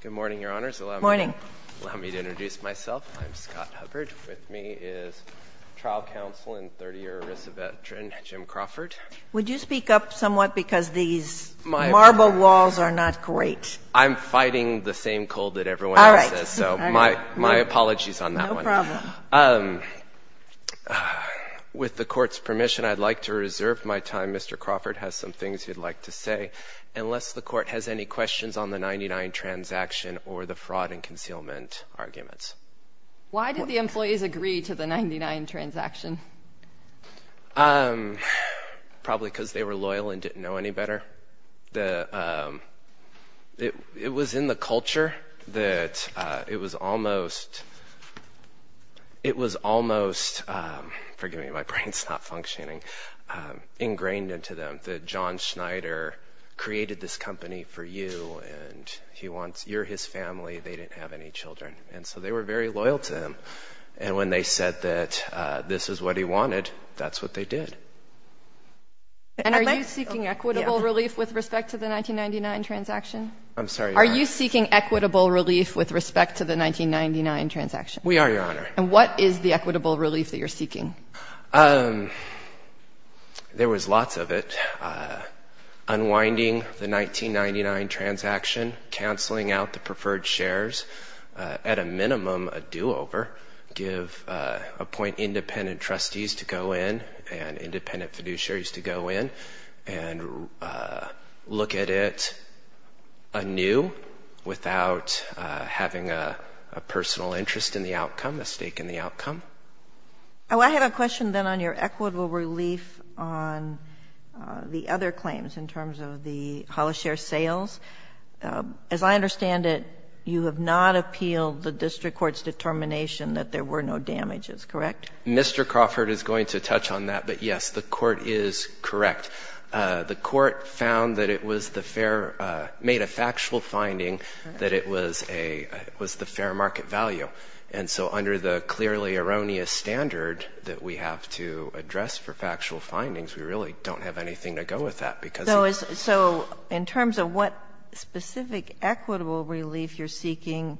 Good morning, Your Honors, allow me to introduce myself. I'm Scott Hubbard. With me is Trial Counsel and 30-year ERISA veteran Jim Crawford. Would you speak up somewhat because these marble walls are not great. I'm fighting the same cold that everyone else is, so my apologies on that one. No problem. With the Court's permission, I'd like to reserve my time. Mr. Crawford, I have some things you'd like to say, unless the Court has any questions on the 99 transaction or the fraud and concealment arguments. Why did the employees agree to the 99 transaction? Probably because they were loyal and didn't know any better. It was in the culture that it was almost, it was almost, forgive me my brain's not functioning, ingrained into them that John Schneider created this company for you and he wants, you're his family, they didn't have any children. And so they were very loyal to him. And when they said that this is what he wanted, that's what they did. And are you seeking equitable relief with respect to the 1999 transaction? I'm sorry? Are you seeking equitable relief with respect to the There was lots of it. Unwinding the 1999 transaction, cancelling out the preferred shares, at a minimum a do-over, give, appoint independent trustees to go in and independent fiduciaries to go in and look at it anew without having a personal interest in the outcome, a on the other claims in terms of the hollow share sales. As I understand it, you have not appealed the district court's determination that there were no damages, correct? Mr. Crawford is going to touch on that, but yes, the court is correct. The court found that it was the fair, made a factual finding that it was a, was the fair market value. And so under the clearly addressed for factual findings, we really don't have anything to go with that. So in terms of what specific equitable relief you're seeking,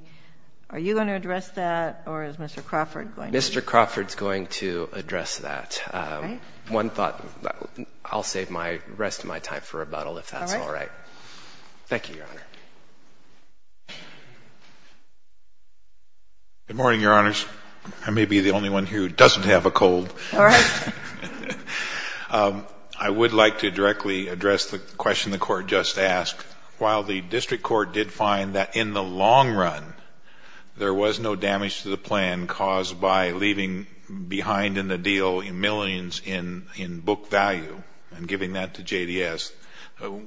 are you going to address that or is Mr. Crawford going to? Mr. Crawford's going to address that. One thought, I'll save my rest of my time for rebuttal if that's all right. Thank you, Your Honor. Good morning, Your Honors. I may be the I would like to directly address the question the court just asked. While the district court did find that in the long run, there was no damage to the plan caused by leaving behind in the deal in millions in book value and giving that to JDS.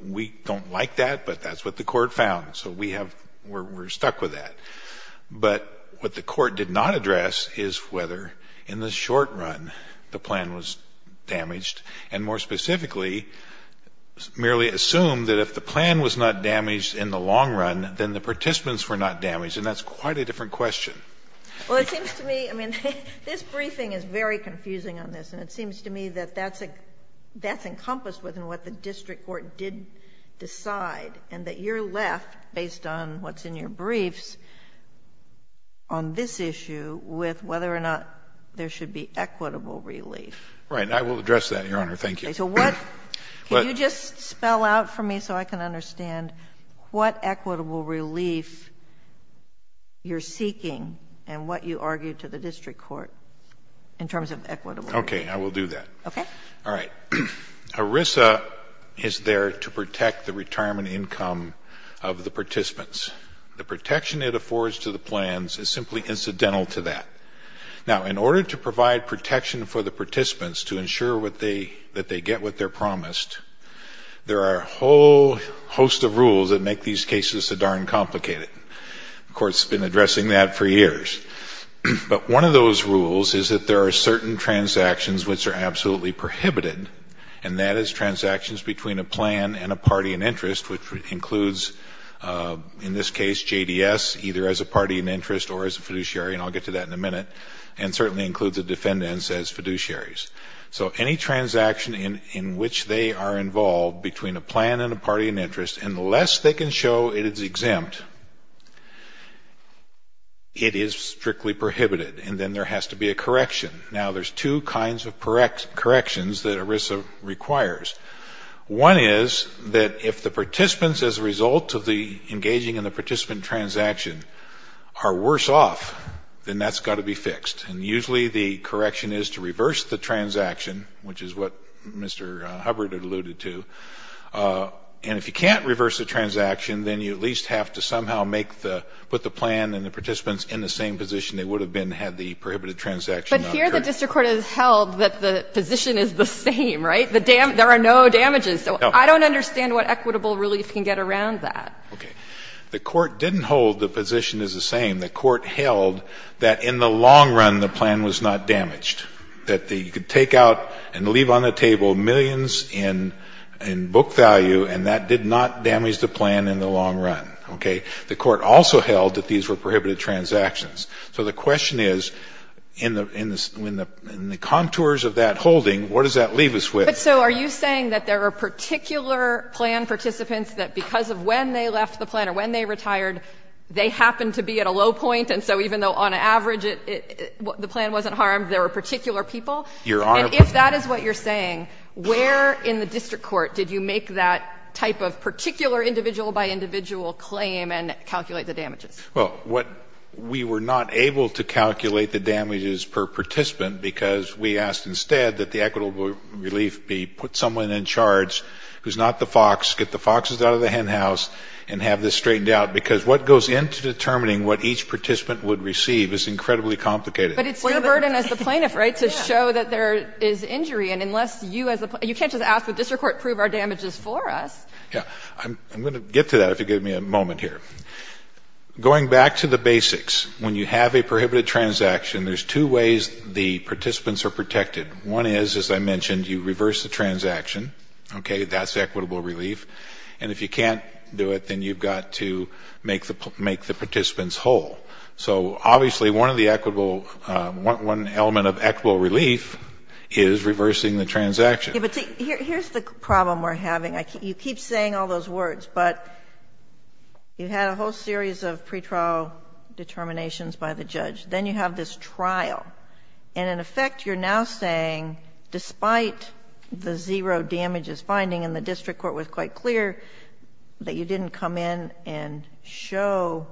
We don't like that, but that's what the court found. So we have, we're stuck with that. But what the court did not address is whether in the short run, the plan was damaged. And more specifically, merely assume that if the plan was not damaged in the long run, then the participants were not damaged. And that's quite a different question. Well, it seems to me, I mean, this briefing is very confusing on this, and it seems to me that that's a, that's encompassed within what the district court did decide. And that you're left, based on what's in your briefs, on this issue with whether or not there should be equitable relief. Right. I will address that, Your Honor. Thank you. So what, can you just spell out for me so I can understand what equitable relief you're seeking and what you argue to the district court in terms of equitable? Okay, I will do that. Okay. All right. ERISA is there to protect the participants. The protection it affords to the plans is simply incidental to that. Now, in order to provide protection for the participants to ensure what they, that they get what they're promised, there are a whole host of rules that make these cases so darn complicated. The court's been addressing that for years. But one of those rules is that there are certain transactions which are absolutely prohibited, and that is transactions between a plan and a party in interest, which includes, in this case, JDS, either as a party in interest or as a fiduciary, and I'll get to that in a minute, and certainly includes the defendants as fiduciaries. So any transaction in, in which they are involved between a plan and a party in interest, unless they can show it is exempt, it is strictly prohibited. And then there has to be a correction. Now, there's two kinds of corrections that ERISA requires. One is that if the participants, as a result of the engaging in the participant transaction, are worse off, then that's got to be fixed. And usually the correction is to reverse the transaction, which is what Mr. Hubbard alluded to. And if you can't reverse the transaction, then you at least have to somehow make the, put the plan and the participants in the same position they would have been had the prohibited transaction not occurred. But here the district court has held that the position is the same, right? The dam, there are no damages. No. So I don't understand what equitable relief can get around that. Okay. The court didn't hold the position is the same. The court held that in the long run the plan was not damaged, that the, you could take out and leave on the table millions in, in book value and that did not damage the plan in the long run. Okay. The court also held that these were prohibited transactions. So the question is, in the, in the contours of that holding, what does that leave us with? But so are you saying that there are particular plan participants that because of when they left the plan or when they retired, they happened to be at a low point and so even though on average it, the plan wasn't harmed, there were particular people? And if that is what you're saying, where in the district court did you make that type of particular individual-by-individual claim and calculate the damages? Well, what we were not able to calculate the damages per participant because we asked instead that the equitable relief be put someone in charge who's not the fox, get the foxes out of the hen house and have this straightened out because what goes into determining what each participant would receive is incredibly complicated. But it's still a burden as the plaintiff, right, to show that there is injury and unless you as a, you can't just ask the district court prove our damages for us. Yeah. I'm, I'm going to get to that if you give me a moment here. Going back to the basics, when you have a prohibited transaction, there's two ways the participants are protected. One is, as I mentioned, you reverse the transaction, okay, that's equitable relief. And if you can't do it, then you've got to make the, make the participants whole. So obviously one of the equitable, one element of equitable relief is reversing the transaction. Yeah, but see, here's the problem we're having. You keep saying all those words, but you had a whole series of pretrial determinations by the judge. Then you have this trial. And in effect, you're now saying, despite the zero damages finding and the district court was quite clear that you didn't come in and show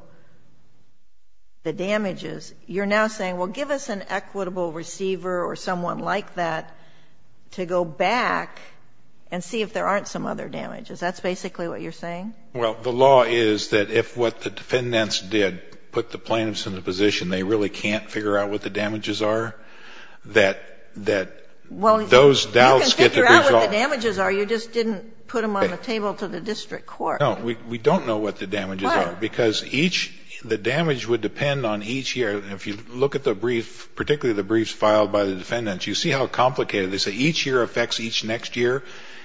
the damages, you're now saying, well, give us an equitable receiver or someone like that to go back and see if there aren't some other damages. That's basically what you're saying? Well, the law is that if what the defendants did put the plaintiffs in a position they really can't figure out what the damages are, that, that those doubts get the results. Well, you can figure out what the damages are, you just didn't put them on the table to the district court. No, we don't know what the damages are. Why? Because each, the damage would depend on each year. If you look at the brief, particularly the briefs filed by the defendants, you see how complicated. They say each year affects each year.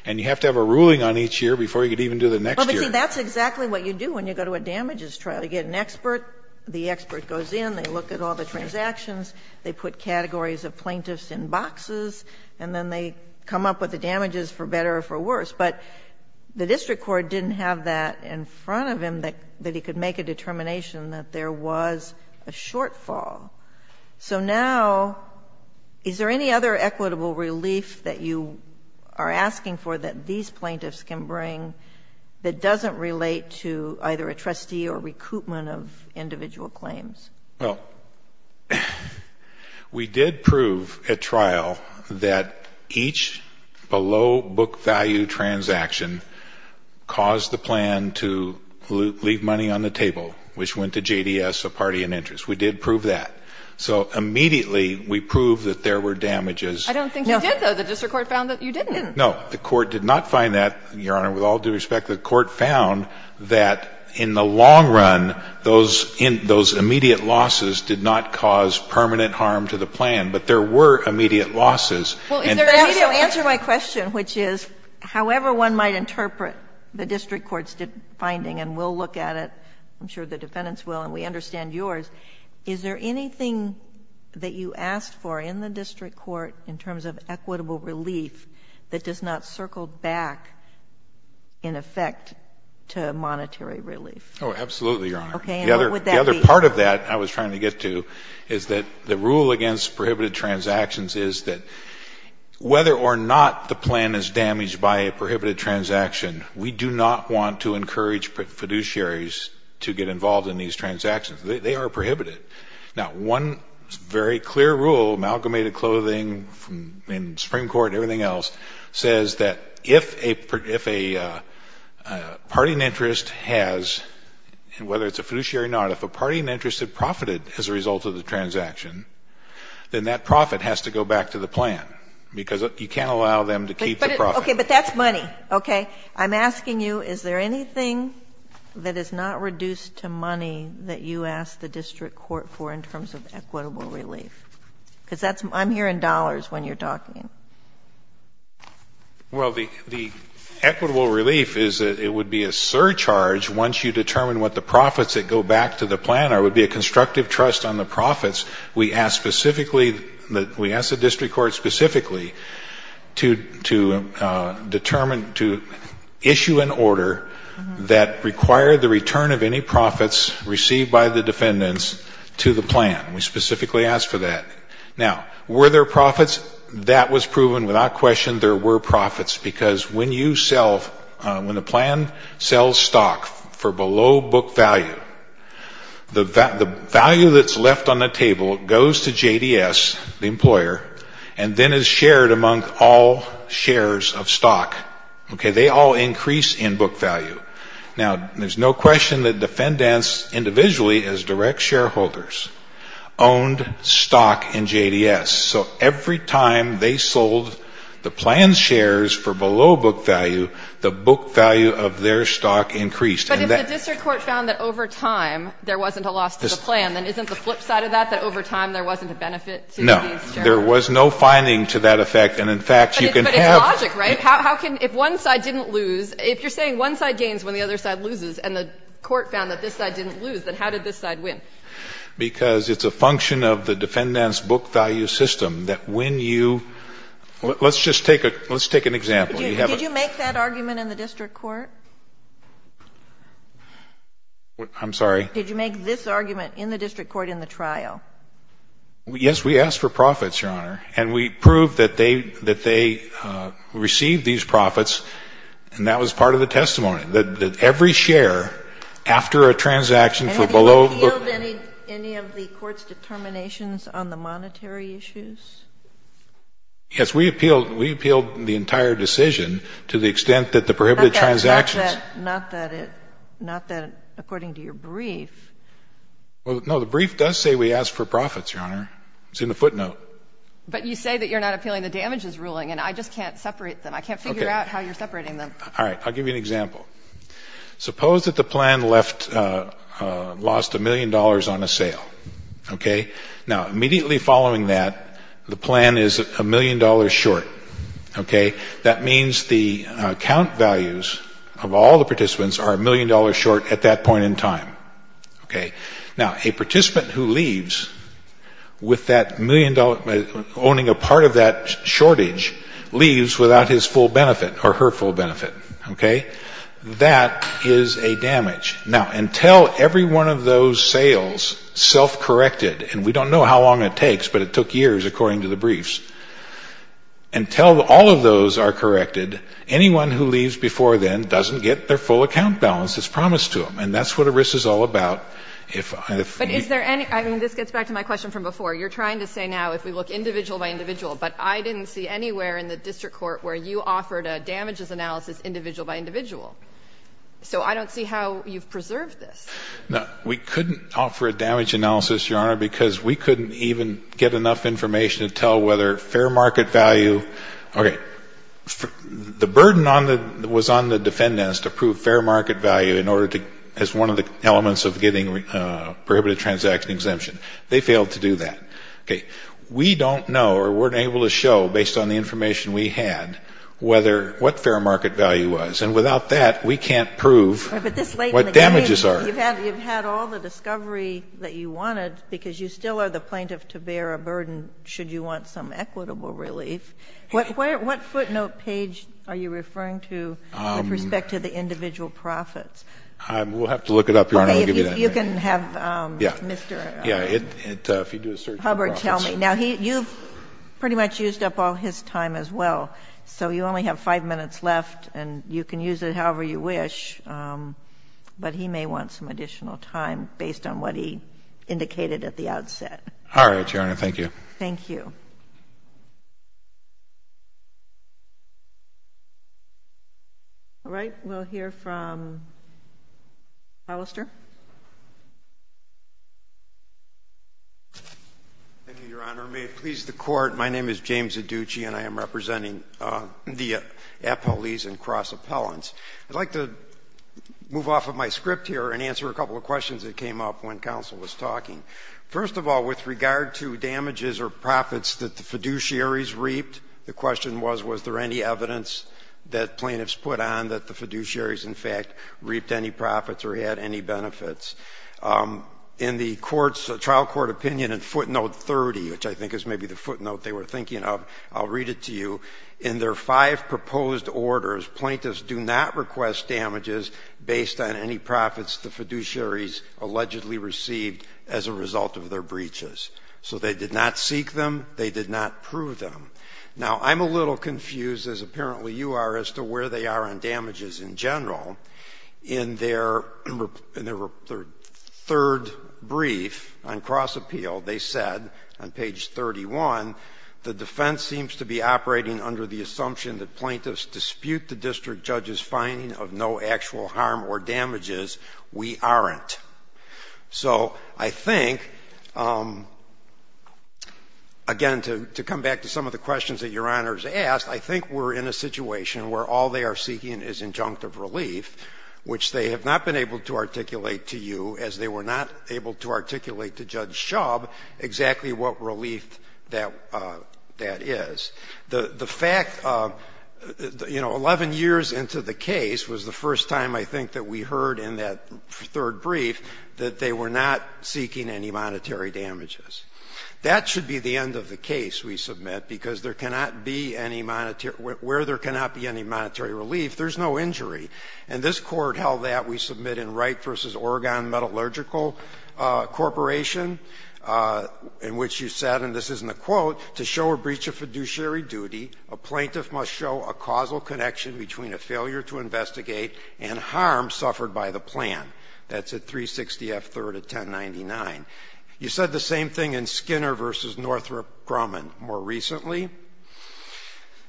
And you have to have a ruling on each year before you can even do the next year. Well, but see, that's exactly what you do when you go to a damages trial. You get an expert, the expert goes in, they look at all the transactions, they put categories of plaintiffs in boxes, and then they come up with the damages for better or for worse. But the district court didn't have that in front of him that he could make a determination that there was a shortfall. So now, is there any other equitable relief that you would are asking for that these plaintiffs can bring that doesn't relate to either a trustee or recoupment of individual claims? Well, we did prove at trial that each below book value transaction caused the plan to leave money on the table, which went to JDS, a party in interest. We did prove that. So immediately we proved that there were damages. I don't think you did, though. The district court found that you didn't. No. The court did not find that, Your Honor. With all due respect, the court found that in the long run, those immediate losses did not cause permanent harm to the plan, but there were immediate losses. Well, is there anything else? So answer my question, which is, however one might interpret the district court's finding, and we'll look at it, I'm sure the defendants will, and we understand yours, is there anything that you asked for in the district court in terms of equitable relief that does not circle back, in effect, to monetary relief? Absolutely, Your Honor. The other part of that I was trying to get to is that the rule against prohibited transactions is that whether or not the plan is damaged by a prohibited transaction, we do not want to encourage fiduciaries to get involved in these transactions. They are prohibited. Now, one very clear rule, amalgamated clothing in the Supreme Court and everything else, says that if a party in interest has, whether it's a fiduciary or not, if a party in interest has profited as a result of the transaction, then that profit has to go back to the plan, because you can't allow them to keep the profit. Okay. But that's money. Okay? I'm asking you, is there anything that is not reduced to money that you asked the district court for in terms of equitable relief? Because that's — I'm hearing dollars when you're talking. Well, the equitable relief is that it would be a surcharge once you determine what the profits that go back to the plan are. It would be a constructive trust on the profits. We asked specifically — we asked the district court specifically to determine — to issue an order that required the return of any profits received by the defendants to the plan. We specifically asked for that. Now, were there profits? That was proven without question there were profits, because when you sell — when the plan sells stock for below book value, the value that's left on the table goes to JDS, the employer, and then is shared among all shares of stock. Okay? They all increase in book value. Now, there's no question that defendants individually, as direct shareholders, owned stock in JDS. So every time they sold the plan's shares for below book value, the book value of their stock increased. But if the district court found that over time there wasn't a loss to the plan, then isn't the flip side of that, that over time there wasn't a benefit to these jurors? No. There was no finding to that effect. And in fact, you can have — If one side didn't lose — if you're saying one side gains when the other side loses and the court found that this side didn't lose, then how did this side win? Because it's a function of the defendant's book value system that when you — let's just take a — let's take an example. Did you make that argument in the district court? I'm sorry? Did you make this argument in the district court in the trial? Yes, we asked for profits, Your Honor. And we proved that they — that they received these profits. And that was part of the testimony, that every share after a transaction for below book — And have you appealed any of the court's determinations on the monetary issues? Yes, we appealed — we appealed the entire decision to the extent that the prohibited transactions — Not that — not that it — not that — according to your brief. Well, no, the brief does say we asked for profits, Your Honor. It's in the footnote. But you say that you're not appealing the damages ruling, and I just can't separate them. I can't figure out how you're separating them. Okay. All right. I'll give you an example. Suppose that the plan left — lost a million dollars on a sale. Okay? Now, immediately following that, the plan is a million dollars short. Okay? That means the count values of all the participants are a million dollars short at that point in time. Okay? Now, a participant who leaves with that million dollar — owning a part of that shortage leaves without his full benefit or her full benefit. Okay? That is a damage. Now, until every one of those sales self-corrected — and we don't know how long it takes, but it took years according to the briefs — until all of those are corrected, anyone who leaves before then doesn't get their full account balance as promised to them. And that's what a risk is all about. But is there any — I mean, this gets back to my question from before. You're trying to say now if we look individual by individual, but I didn't see anywhere in the district court where you offered a damages analysis individual by individual. So I don't see how you've preserved this. No. We couldn't offer a damage analysis, Your Honor, because we couldn't even get enough information to tell whether fair market value — okay. The burden on the — was on the defendants to prove fair market value in order to — as one of the elements of getting prohibited transaction exemption. They failed to do that. Okay. We don't know or weren't able to show, based on the information we had, whether — what fair market value was. And without that, we can't prove what damages are. Right. But this late in the game, you've had all the discovery that you wanted because you still are the plaintiff to bear a burden should you want some equitable relief. What footnote page are you referring to? With respect to the individual profits. We'll have to look it up, Your Honor. I'll give you that. Okay. If you can have Mr. Hubbard tell me. Yeah. If you do a search of the profits. Now, you've pretty much used up all his time as well. So you only have five minutes left, and you can use it however you wish, but he may want some additional time based on what he indicated at the outset. All right, Your Honor. Thank you. Thank you. All right. We'll hear from Alistair. Thank you, Your Honor. May it please the Court, my name is James Adduci, and I am representing the appellees and cross-appellants. I'd like to move off of my script here and answer a couple of questions that came up when counsel was talking. First of all, with regard to damages or profits that the fiduciaries reaped, the question was, was there any evidence that plaintiffs put on that the fiduciaries, in fact, reaped any profits or had any benefits? In the trial court opinion in footnote 30, which I think is maybe the footnote they were thinking of, I'll read it to you. In their five proposed orders, plaintiffs do not request damages based on any profits the fiduciaries allegedly received as a result of their breaches. So they did not seek them, they did not prove them. Now, I'm a little confused, as apparently you are, as to where they are on damages in general. In their third brief on cross-appeal, they said, on page 31, the defense seems to be operating under the assumption that plaintiffs dispute the district judge's finding of no actual harm or damages. We aren't. So I think again, to come back to some of the questions that Your Honor has asked, I think we're in a situation where all they are seeking is injunctive relief, which they have not been able to articulate to you, as they were not able to articulate to Judge Shubb exactly what relief that is. The fact, you know, 11 years into the case was the first time, I think, that we heard in that third brief that they were not seeking any monetary damages. That should be the end of the case, we submit, because there cannot be any monetary – where there cannot be any monetary relief, there's no injury. And this Court held that, we submit, in Wright v. Oregon Metallurgical Corporation, in which you said, and this isn't a quote, to show a breach of fiduciary duty, a plaintiff must show a causal connection between a failure to investigate and harm suffered by the plan. That's at 360 F. 3rd of 1099. You said the same thing in Skinner v. Northrop Grumman more recently.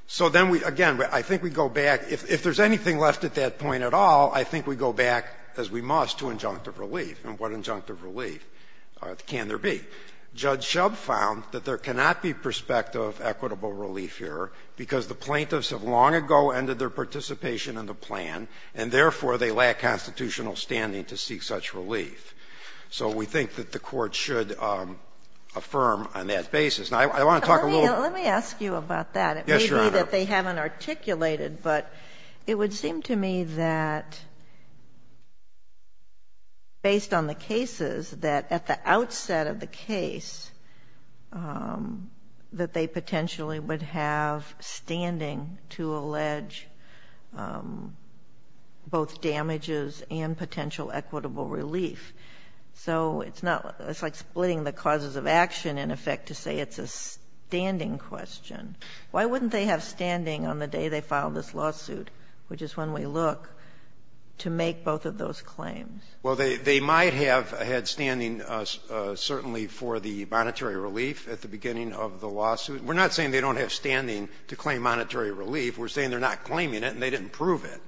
So then we, again, I think we go back, if there's anything left at that point at all, I think we go back, as we must, to injunctive relief. And what injunctive relief can there be? Judge Shubb found that there cannot be perspective of equitable relief here, because the plaintiffs have long ago ended their participation in the plan, and therefore, they lack constitutional standing to seek such relief. So we think that the Court should affirm on that basis. Now, I want to talk a little – Let me ask you about that. Yes, Your Honor. It may be that they haven't articulated, but it would seem to me that, based on the standing to allege both damages and potential equitable relief. So it's not – it's like splitting the causes of action, in effect, to say it's a standing question. Why wouldn't they have standing on the day they filed this lawsuit, which is when we look, to make both of those claims? Well, they might have had standing, certainly, for the monetary relief at the beginning of the lawsuit. We're not saying they don't have standing to claim monetary relief. We're saying they're not claiming it, and they didn't prove it.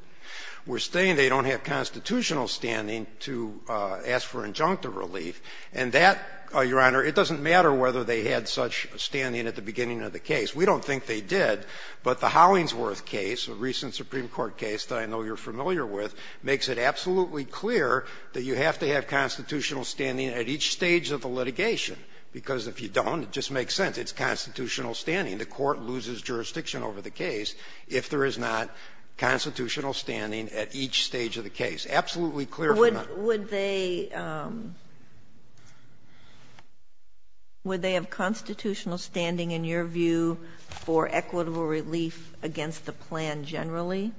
We're saying they don't have constitutional standing to ask for injunctive relief. And that, Your Honor, it doesn't matter whether they had such standing at the beginning of the case. We don't think they did. But the Hollingsworth case, a recent Supreme Court case that I know you're familiar with, makes it absolutely clear that you have to have constitutional standing at each stage of the litigation. Because if you don't, it just makes sense. It's constitutional standing. The Court loses jurisdiction over the case if there is not constitutional standing at each stage of the case. Absolutely clear from that. Would they – would they have constitutional standing, in your view, for equitable relief against the plan generally?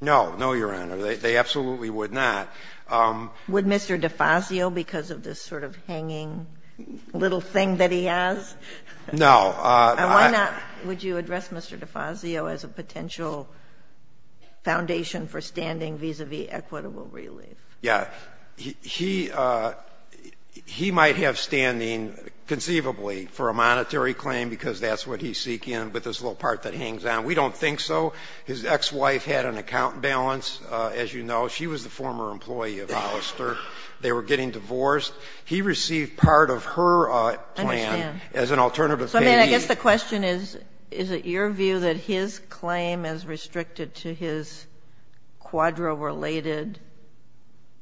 No. No, Your Honor. They absolutely would not. Would Mr. DeFazio, because of this sort of hanging little thing that he has? No. And why not – would you address Mr. DeFazio as a potential foundation for standing vis-à-vis equitable relief? Yeah. He – he might have standing, conceivably, for a monetary claim, because that's what he's seeking, with this little part that hangs on. We don't think so. His ex-wife had an account balance, as you know. She was the former employee of Alistair. They were getting divorced. He received part of her plan as an alternative payee. I understand. So, I mean, I guess the question is, is it your view that his claim is restricted to his Quadro-related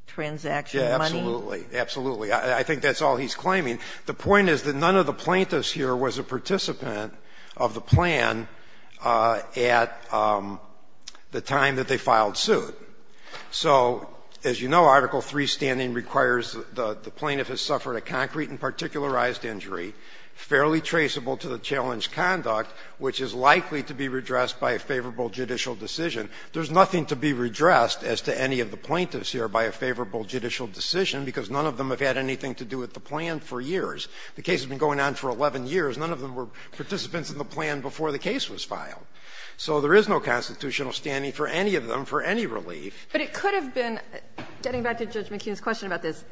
transaction money? Yeah, absolutely. Absolutely. I think that's all he's claiming. The point is that none of the plaintiffs here was a participant of the plan at the time that they filed suit. So, as you know, Article III standing requires the plaintiff has suffered a concrete and particularized injury, fairly traceable to the challenge conduct, which is likely to be redressed by a favorable judicial decision. There's nothing to be redressed, as to any of the plaintiffs here, by a favorable judicial decision, because none of them have had anything to do with the plan for years. The case has been going on for 11 years. None of them were participants in the plan before the case was filed. So there is no constitutional standing for any of them, for any relief. But it could have been, getting back to Judge McKeon's question about this,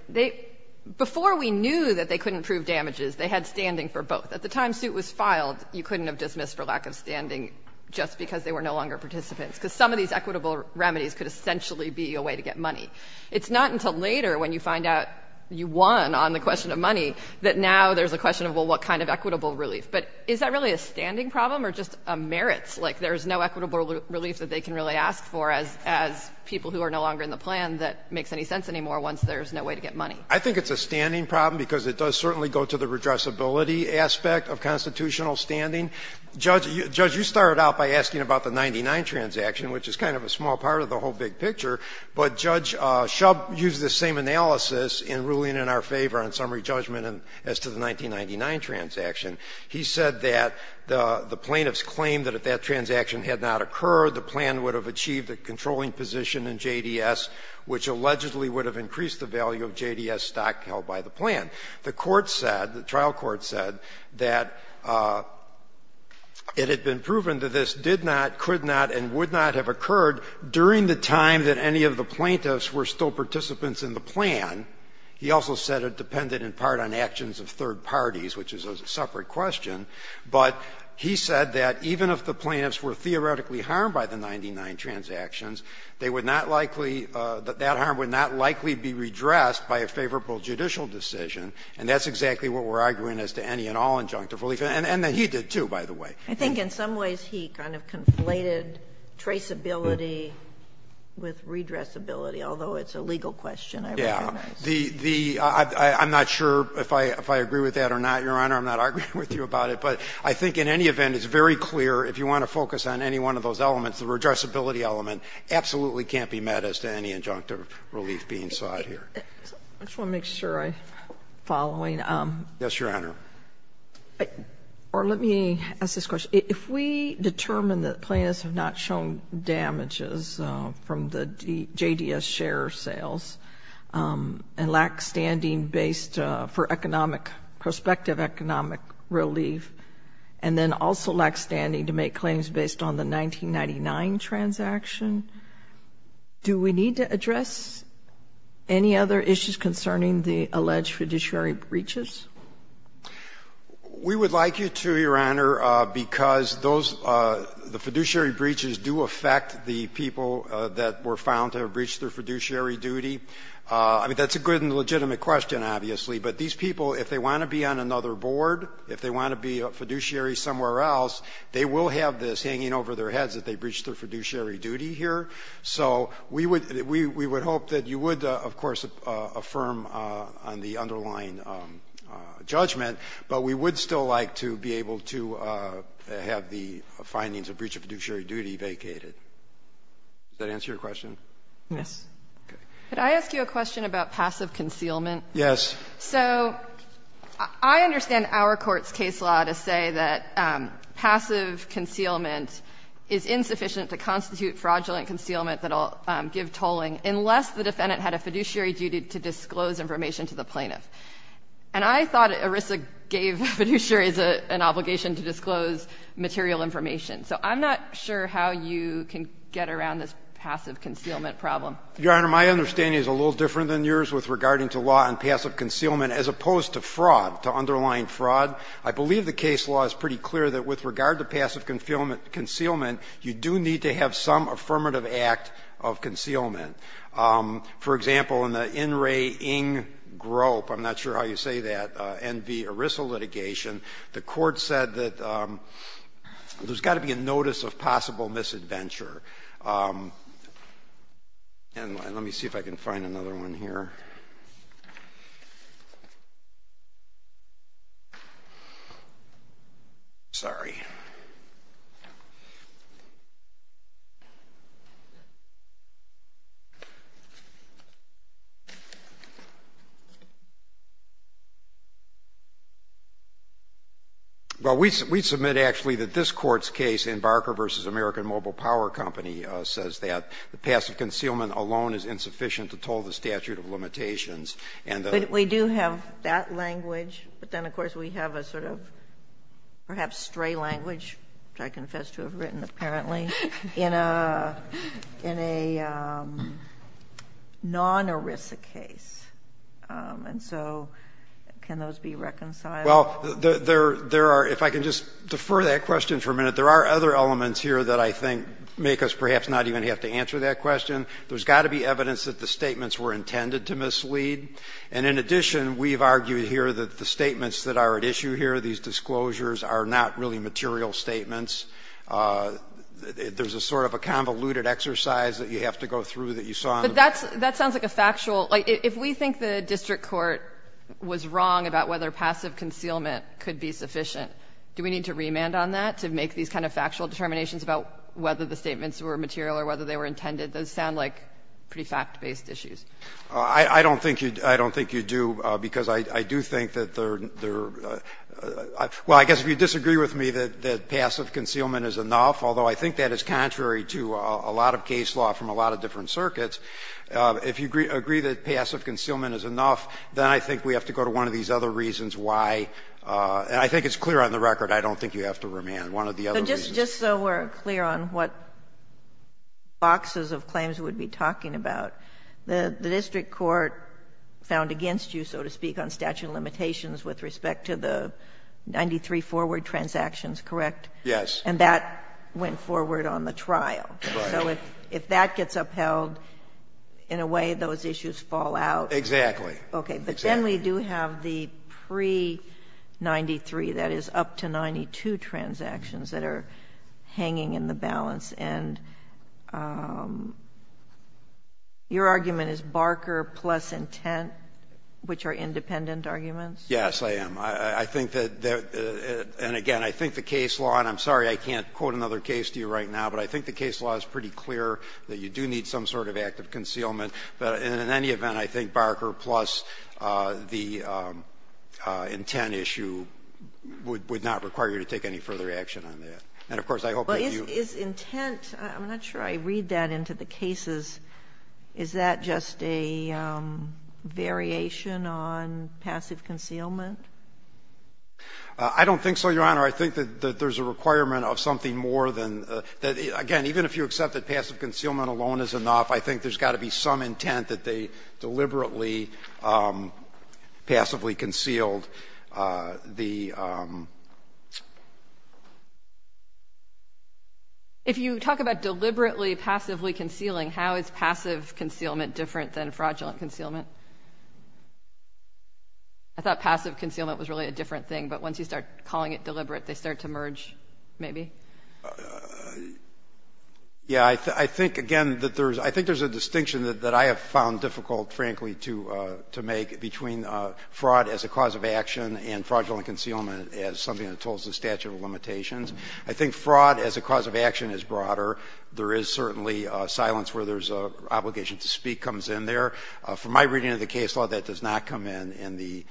before we knew that they couldn't prove damages, they had standing for both. At the time suit was filed, you couldn't have dismissed for lack of standing just because they were no longer participants, because some of these equitable remedies could essentially be a way to get money. It's not until later, when you find out you won on the question of money, that now there's a question of, well, what kind of equitable relief. But is that really a standing problem, or just a merit? Like, there's no equitable relief that they can really ask for, as people who are no longer in the plan, that makes any sense anymore once there's no way to get money. I think it's a standing problem, because it does certainly go to the redressability aspect of constitutional standing. Judge, you started out by asking about the 99 transaction, which is kind of a small part of the whole big picture, but Judge Shub used the same analysis in ruling in our favor on summary judgment as to the 1999 transaction. He said that the plaintiffs claimed that if that transaction had not occurred, the plan would have achieved a controlling position in JDS, which allegedly would have increased the value of JDS stock held by the plan. The court said, the trial court said, that it had been proven that this did not, could not, and would not have occurred during the time that any of the plaintiffs were still participants in the plan. He also said it depended in part on actions of third parties, which is a separate question, but he said that even if the plaintiffs were theoretically harmed by the 99 transactions, they would not likely, that harm would not likely be redressed by a favorable judicial decision, and that's exactly what we're arguing as to any and all injunctive relief, and that he did, too, by the way. I think in some ways he kind of conflated traceability with redressability, although it's a legal question, I recognize. I'm not sure if I agree with that or not, Your Honor. I'm not arguing with you about it. But I think in any event, it's very clear, if you want to focus on any one of those elements, the redressability element absolutely can't be met as to any injunctive relief being sought here. I just want to make sure I'm following. Yes, Your Honor. Or let me ask this question. If we determine that plaintiffs have not shown damages from the JDS share sales and lack standing based for economic, prospective economic relief, and then also lack standing to make claims based on the 1999 transaction, do we need to address any other issues concerning the alleged fiduciary breaches? We would like you to, Your Honor, because those the fiduciary breaches do affect the people that were found to have breached their fiduciary duty. I mean, that's a good and legitimate question, obviously. But these people, if they want to be on another board, if they want to be a fiduciary somewhere else, they will have this hanging over their heads that they breached their fiduciary duty here. So we would hope that you would, of course, affirm on the underlying judgment, but we would still like to be able to have the findings of breach of fiduciary duty vacated. Does that answer your question? Yes. Could I ask you a question about passive concealment? Yes. So I understand our Court's case law to say that passive concealment is insufficient to constitute fraudulent concealment that will give tolling unless the defendant had a fiduciary duty to disclose information to the plaintiff. And I thought ERISA gave fiduciaries an obligation to disclose material information. So I'm not sure how you can get around this passive concealment problem. Your Honor, my understanding is a little different than yours with regarding to law on passive concealment as opposed to fraud, to underlying fraud. I believe the case law is pretty clear that with regard to passive concealment, you do need to have some affirmative act of concealment. For example, in the In Re In Grope, I'm not sure how you say that, NV ERISA litigation, the Court said that there's got to be a notice of possible misadventure. And let me see if I can find another one here. Sorry. Well, we submit actually that this Court's case in Barker v. American Mobile Power Company says that the passive concealment alone is insufficient to toll the statute of limitations, and the other. But we do have that language, but then of course we have a sort of perhaps stray language, which I confess to have written apparently, in a, in a, in a statute non-ERISA case. And so can those be reconciled? Well, there are, if I can just defer that question for a minute, there are other elements here that I think make us perhaps not even have to answer that question. There's got to be evidence that the statements were intended to mislead. And in addition, we've argued here that the statements that are at issue here, these disclosures, are not really material statements. There's a sort of a convoluted exercise that you have to go through that you saw on the back. But that's, that sounds like a factual, like, if we think the district court was wrong about whether passive concealment could be sufficient, do we need to remand on that to make these kind of factual determinations about whether the statements were material or whether they were intended? Those sound like pretty fact-based issues. I don't think you, I don't think you do, because I do think that they're, they're Well, I guess if you disagree with me that passive concealment is enough, although I think that is contrary to a lot of case law from a lot of different circuits, if you agree that passive concealment is enough, then I think we have to go to one of these other reasons why, and I think it's clear on the record, I don't think you have to remand. One of the other reasons. But just so we're clear on what boxes of claims we would be talking about, the district court found against you, so to speak, on statute of limitations with respect to the 93 forward transactions, correct? Yes. And that went forward on the trial. Right. So if that gets upheld, in a way those issues fall out. Exactly. Okay. Exactly. But then we do have the pre-93, that is, up to 92 transactions that are hanging in the balance, and your argument is Barker plus intent, which are independent arguments? Yes, I am. I think that, and again, I think the case law, and I'm sorry I can't quote another case to you right now, but I think the case law is pretty clear that you do need some sort of active concealment. But in any event, I think Barker plus the intent issue would not require you to take any further action on that. And of course, I hope that you Well, is intent, I'm not sure I read that into the cases. Is that just a variation on passive concealment? I don't think so, Your Honor. I think that there's a requirement of something more than, again, even if you accept that passive concealment alone is enough, I think there's got to be some intent that they deliberately passively concealed the If you talk about deliberately passively concealing, how is passive concealment different than fraudulent concealment? I thought passive concealment was really a different thing, but once you start calling it deliberate, they start to merge, maybe? Yeah, I think, again, that there's, I think there's a distinction that I have found difficult, frankly, to make between fraud as a cause of action and as something that tolls the statute of limitations. I think fraud as a cause of action is broader. There is certainly silence where there's an obligation to speak comes in there. From my reading of the case law, that does not come in, in the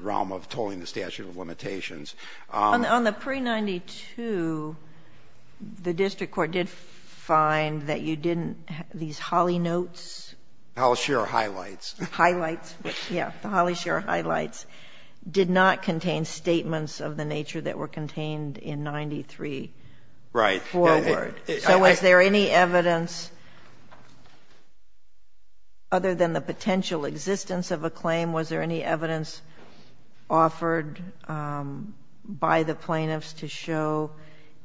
realm of tolling the statute of limitations. On the pre-'92, the district court did find that you didn't, these Holly Notes Holly Share Highlights Highlights? Yeah, the Holly Share Highlights did not contain statements of the nature that were contained in 93 forward. Right. So was there any evidence other than the potential existence of a claim, was there any evidence offered by the plaintiffs to show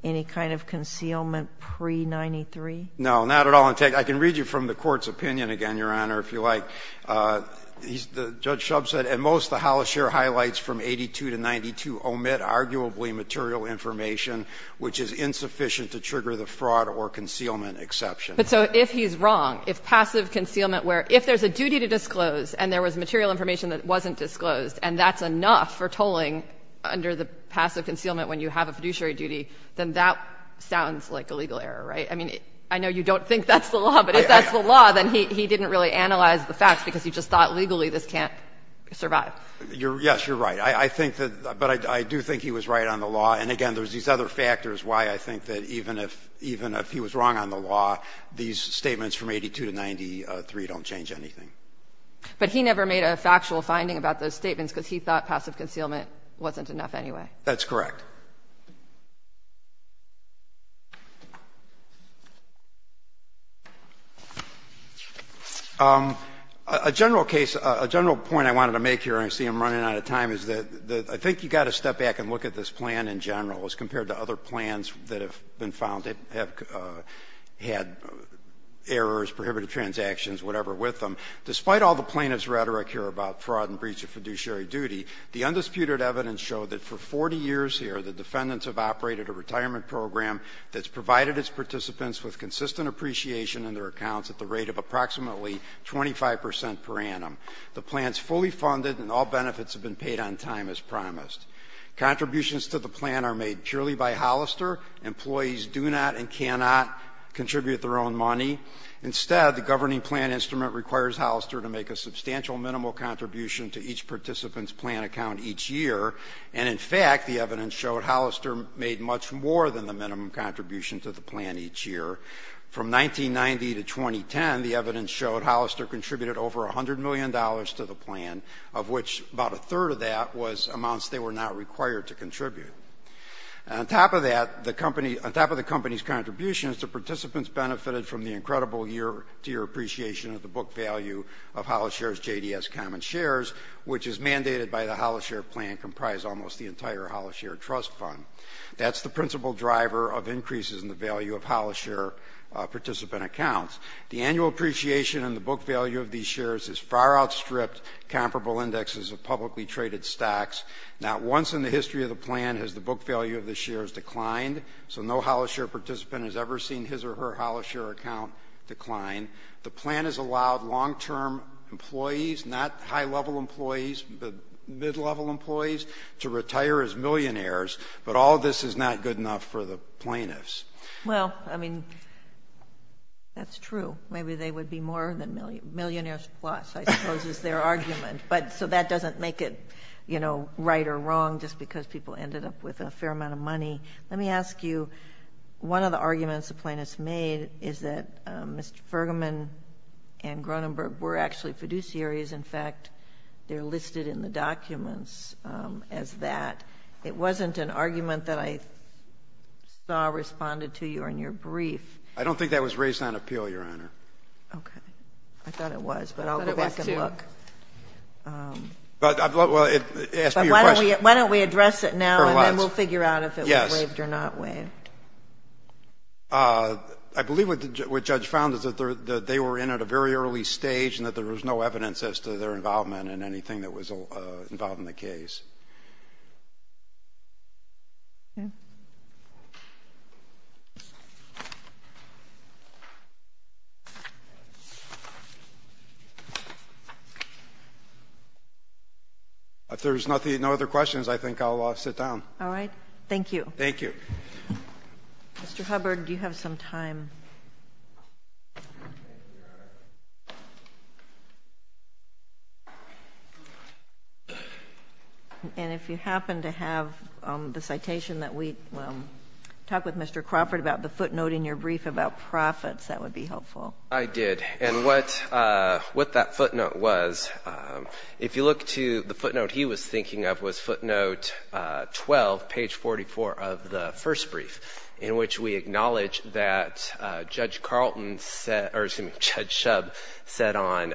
any kind of concealment pre-'93? No, not at all. I can read you from the Court's opinion again, Your Honor, if you like. Judge Shub said, And most of the Holly Share Highlights from 82 to 92 omit arguably material information which is insufficient to trigger the fraud or concealment exception. But so if he's wrong, if passive concealment where if there's a duty to disclose and there was material information that wasn't disclosed and that's enough for tolling under the passive concealment when you have a fiduciary duty, then that sounds like a legal error, right? I mean, I know you don't think that's the law, but if that's the law, then he didn't really analyze the facts because he just thought legally this can't survive. Yes, you're right. I think that, but I do think he was right on the law. And again, there's these other factors why I think that even if even if he was wrong on the law, these statements from 82 to 93 don't change anything. But he never made a factual finding about those statements because he thought passive concealment wasn't enough anyway. That's correct. A general case, a general point I wanted to make here, and I see I'm running out of time, is that I think you've got to step back and look at this plan in general as compared to other plans that have been found that have had errors, prohibited transactions, whatever with them. Despite all the plaintiff's rhetoric here about fraud and breach of fiduciary duty, the undisputed evidence showed that for 40 years here, the defendants have operated a retirement program that's provided its participants with the consistent appreciation in their accounts at the rate of approximately 25 percent per annum. The plan's fully funded and all benefits have been paid on time as promised. Contributions to the plan are made purely by Hollister. Employees do not and cannot contribute their own money. Instead, the governing plan instrument requires Hollister to make a substantial minimal contribution to each participant's plan account each year. And in fact, the evidence showed Hollister made much more than the minimum contribution to the plan each year. From 1990 to 2010, the evidence showed Hollister contributed over $100 million to the plan, of which about a third of that was amounts they were not required to contribute. On top of that, on top of the company's contributions, the participants benefited from the incredible year-to-year appreciation of the book value of Hollister's JDS common shares, which is mandated by the Hollister plan comprised almost the entire Hollister trust fund. That's the principal driver of increases in the value of Hollister participant accounts. The annual appreciation in the book value of these shares is far outstripped comparable indexes of publicly traded stocks. Not once in the history of the plan has the book value of the shares declined, so no Hollister participant has ever seen his or her Hollister account decline. The plan has allowed long-term employees, not high-level employees, but mid-level employees, to retire as millionaires, but all this is not good enough for the plaintiffs. Well, I mean, that's true. Maybe they would be more than millionaires plus, I suppose is their argument. But so that doesn't make it, you know, right or wrong just because people ended up with a fair amount of money. Let me ask you, one of the arguments the plaintiffs made is that Mr. Fergerman and Gronenberg were actually fiduciaries. In fact, they're listed in the documents as that. It wasn't an argument that I saw responded to you in your brief. I don't think that was raised on appeal, Your Honor. Okay. I thought it was, but I'll go back and look. I thought it was, too. Well, ask me your question. But why don't we address it now and then we'll figure out if it was waived or not waived. Yes. I believe what the judge found is that they were in at a very early stage and that there was no evidence as to their involvement in anything that was involved in the case. If there's no other questions, I think I'll sit down. All right. Thank you. Thank you. Mr. Hubbard, do you have some time? And if you happen to have the citation that we talked with Mr. Crawford about the footnote in your brief about profits, that would be helpful. I did. And what that footnote was, if you look to the footnote he was thinking of was footnote 12, page 44 of the first brief, in which we acknowledge that Judge Carlton said, or excuse me, Judge Shub said on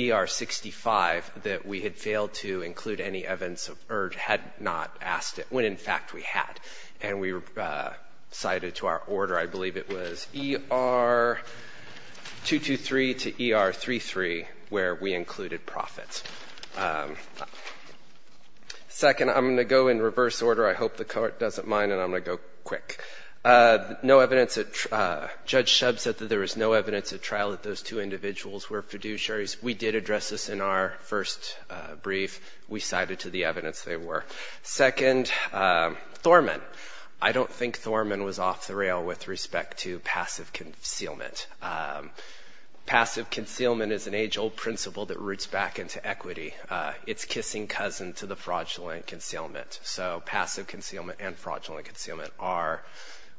ER 65 that we had failed to include any evidence or had not asked it when, in fact, we had. And we cited to our order, I believe it was ER 223 to ER 33, where we included profits. Second, I'm going to go in reverse order. I hope the court doesn't mind, and I'm going to go quick. No evidence that Judge Shub said that there was no evidence at trial that those two individuals were fiduciaries. We did address this in our first brief. We cited to the evidence they were. Second, Thorman. I don't think Thorman was off the rail with respect to passive concealment. Passive concealment is an age-old principle that roots back into equity. It's kissing cousin to the fraudulent concealment. So passive concealment and fraudulent concealment are,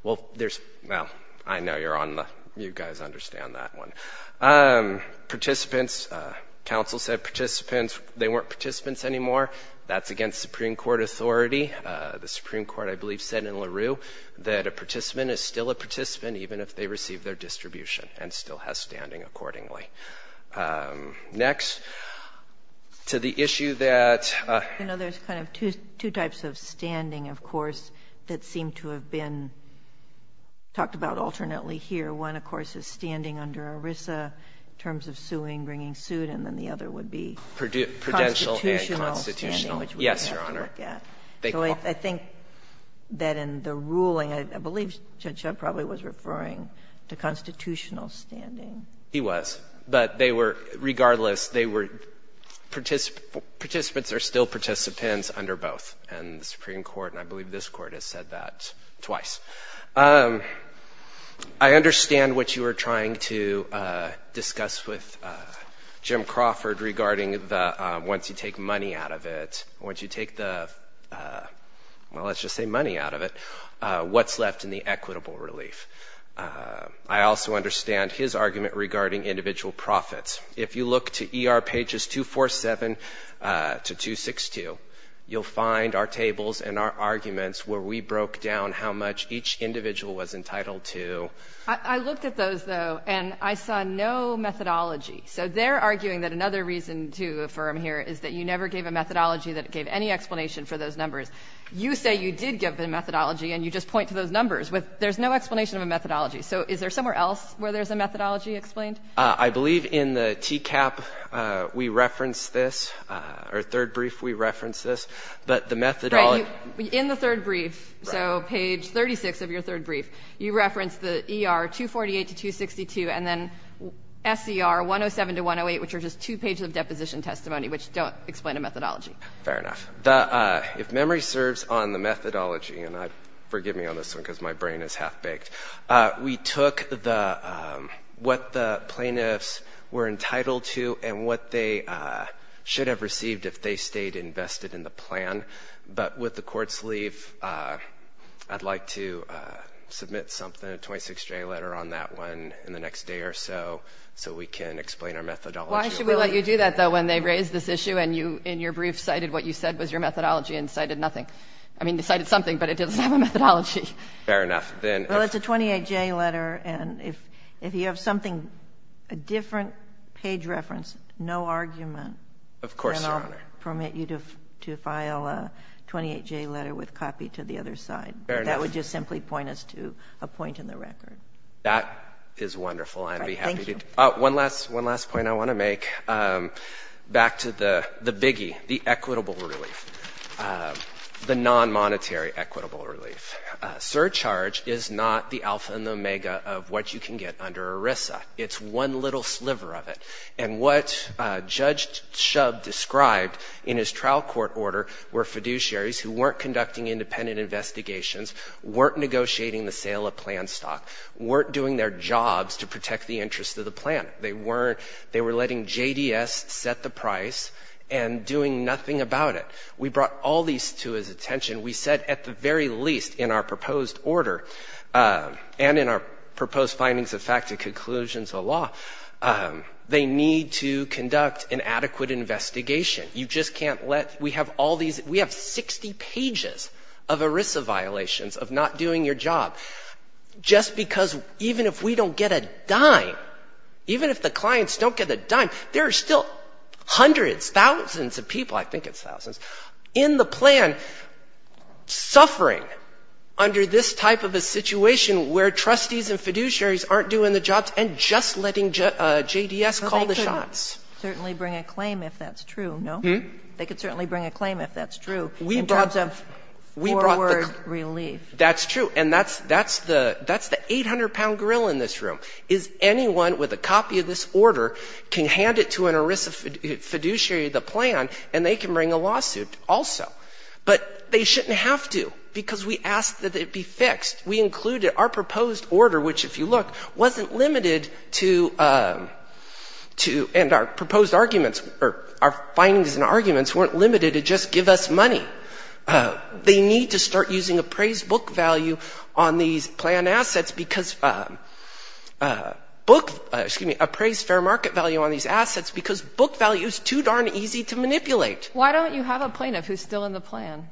well, there's, well, I know you're on the, you guys understand that one. Participants, counsel said participants, they weren't participants anymore. That's against Supreme Court authority. The Supreme Court, I believe, said in LaRue that a participant is still a participant and still has standing accordingly. Next, to the issue that. You know, there's kind of two types of standing, of course, that seem to have been talked about alternately here. One, of course, is standing under ERISA in terms of suing, bringing suit, and then the other would be. Prudential and constitutional. Yes, Your Honor. So I think that in the ruling, I believe Judge Shub probably was referring to constitutional standing. He was. But they were, regardless, they were, participants are still participants under both in the Supreme Court, and I believe this Court has said that twice. I understand what you were trying to discuss with Jim Crawford regarding the, once you take money out of it, once you take the, well, let's just say money out of it, what's left in the equitable relief. I also understand his argument regarding individual profits. If you look to ER pages 247 to 262, you'll find our tables and our arguments where we broke down how much each individual was entitled to. I looked at those, though, and I saw no methodology. So they're arguing that another reason to affirm here is that you never gave a methodology that gave any explanation for those numbers. You say you did give a methodology and you just point to those numbers. There's no explanation of a methodology. So is there somewhere else where there's a methodology explained? I believe in the TCAP we reference this, or third brief we reference this, but the methodology Right. In the third brief, so page 36 of your third brief, you reference the ER 248 to 262 and then SCR 107 to 108, which are just two pages of deposition testimony, which don't explain a methodology. Fair enough. If memory serves on the methodology, and forgive me on this one because my brain is half-baked, we took what the plaintiffs were entitled to and what they should have received if they stayed invested in the plan, but with the court's leave, I'd like to submit something, a 26-J letter on that one in the next day or so, so we can explain our methodology. Why should we let you do that, though, when they raised this issue and you in your brief cited what you said was your methodology and cited nothing? I mean, they cited something, but it doesn't have a methodology. Fair enough. Well, it's a 28-J letter, and if you have something, a different page reference, no argument. Of course, Your Honor. Then I'll permit you to file a 28-J letter with copy to the other side. Fair enough. That would just simply point us to a point in the record. That is wonderful. I'd be happy to. Thank you. One last point I want to make, back to the biggie, the equitable relief, the non-monetary equitable relief. Surcharge is not the alpha and the omega of what you can get under ERISA. It's one little sliver of it. And what Judge Shub described in his trial court order were fiduciaries who weren't conducting independent investigations, weren't negotiating the sale of plan stock, weren't doing their jobs to protect the interests of the plan. They were letting JDS set the price and doing nothing about it. We brought all these to his attention. We said at the very least in our proposed order and in our proposed findings of fact and conclusions of law, they need to conduct an adequate investigation. You just can't let we have all these we have 60 pages of ERISA violations of not doing your job. Just because even if we don't get a dime, even if the clients don't get a dime, there are still hundreds, thousands of people, I think it's thousands, in the plan suffering under this type of a situation where trustees and fiduciaries aren't doing the jobs and just letting JDS call the shots. Well, they could certainly bring a claim if that's true, no? They could certainly bring a claim if that's true in terms of forward relief. That's true. And that's the 800-pound grill in this room is anyone with a copy of this order can hand it to an ERISA fiduciary, the plan, and they can bring a lawsuit also. But they shouldn't have to because we asked that it be fixed. We included our proposed order, which, if you look, wasn't limited to and our proposed arguments or our findings and arguments weren't limited to just give us money. They need to start using appraised book value on these plan assets because book, excuse me, appraised fair market value on these assets because book value is too darn easy to manipulate. Why don't you have a plaintiff who's still in the plan?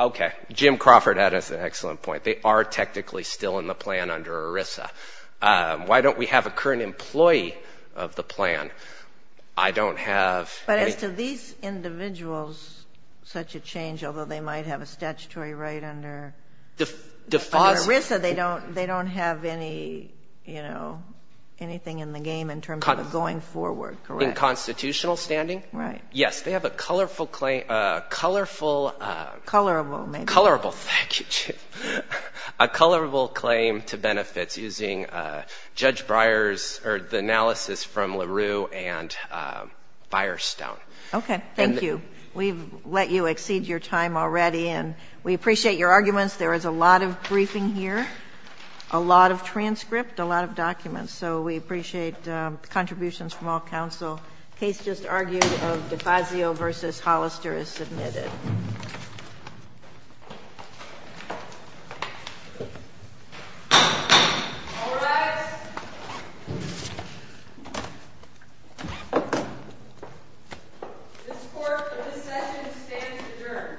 Okay, Jim Crawford had an excellent point. They are technically still in the plan under ERISA. Why don't we have a current employee of the plan? I don't have. But as to these individuals, such a change, although they might have a statutory right under ERISA, they don't have any, you know, anything in the game in terms of going forward, correct? In constitutional standing? Right. Yes. They have a colorful claim. Colorful. Colorable maybe. Colorable. Thank you, Jim. A colorful claim to benefits using Judge Breyer's analysis from LaRue and Firestone. Okay. Thank you. We've let you exceed your time already and we appreciate your arguments. There is a lot of briefing here, a lot of transcript, a lot of documents, so we appreciate contributions from all counsel. The case just argued of Defazio v. Hollister is submitted. All rise. This court, for this session, stands adjourned. Thank you.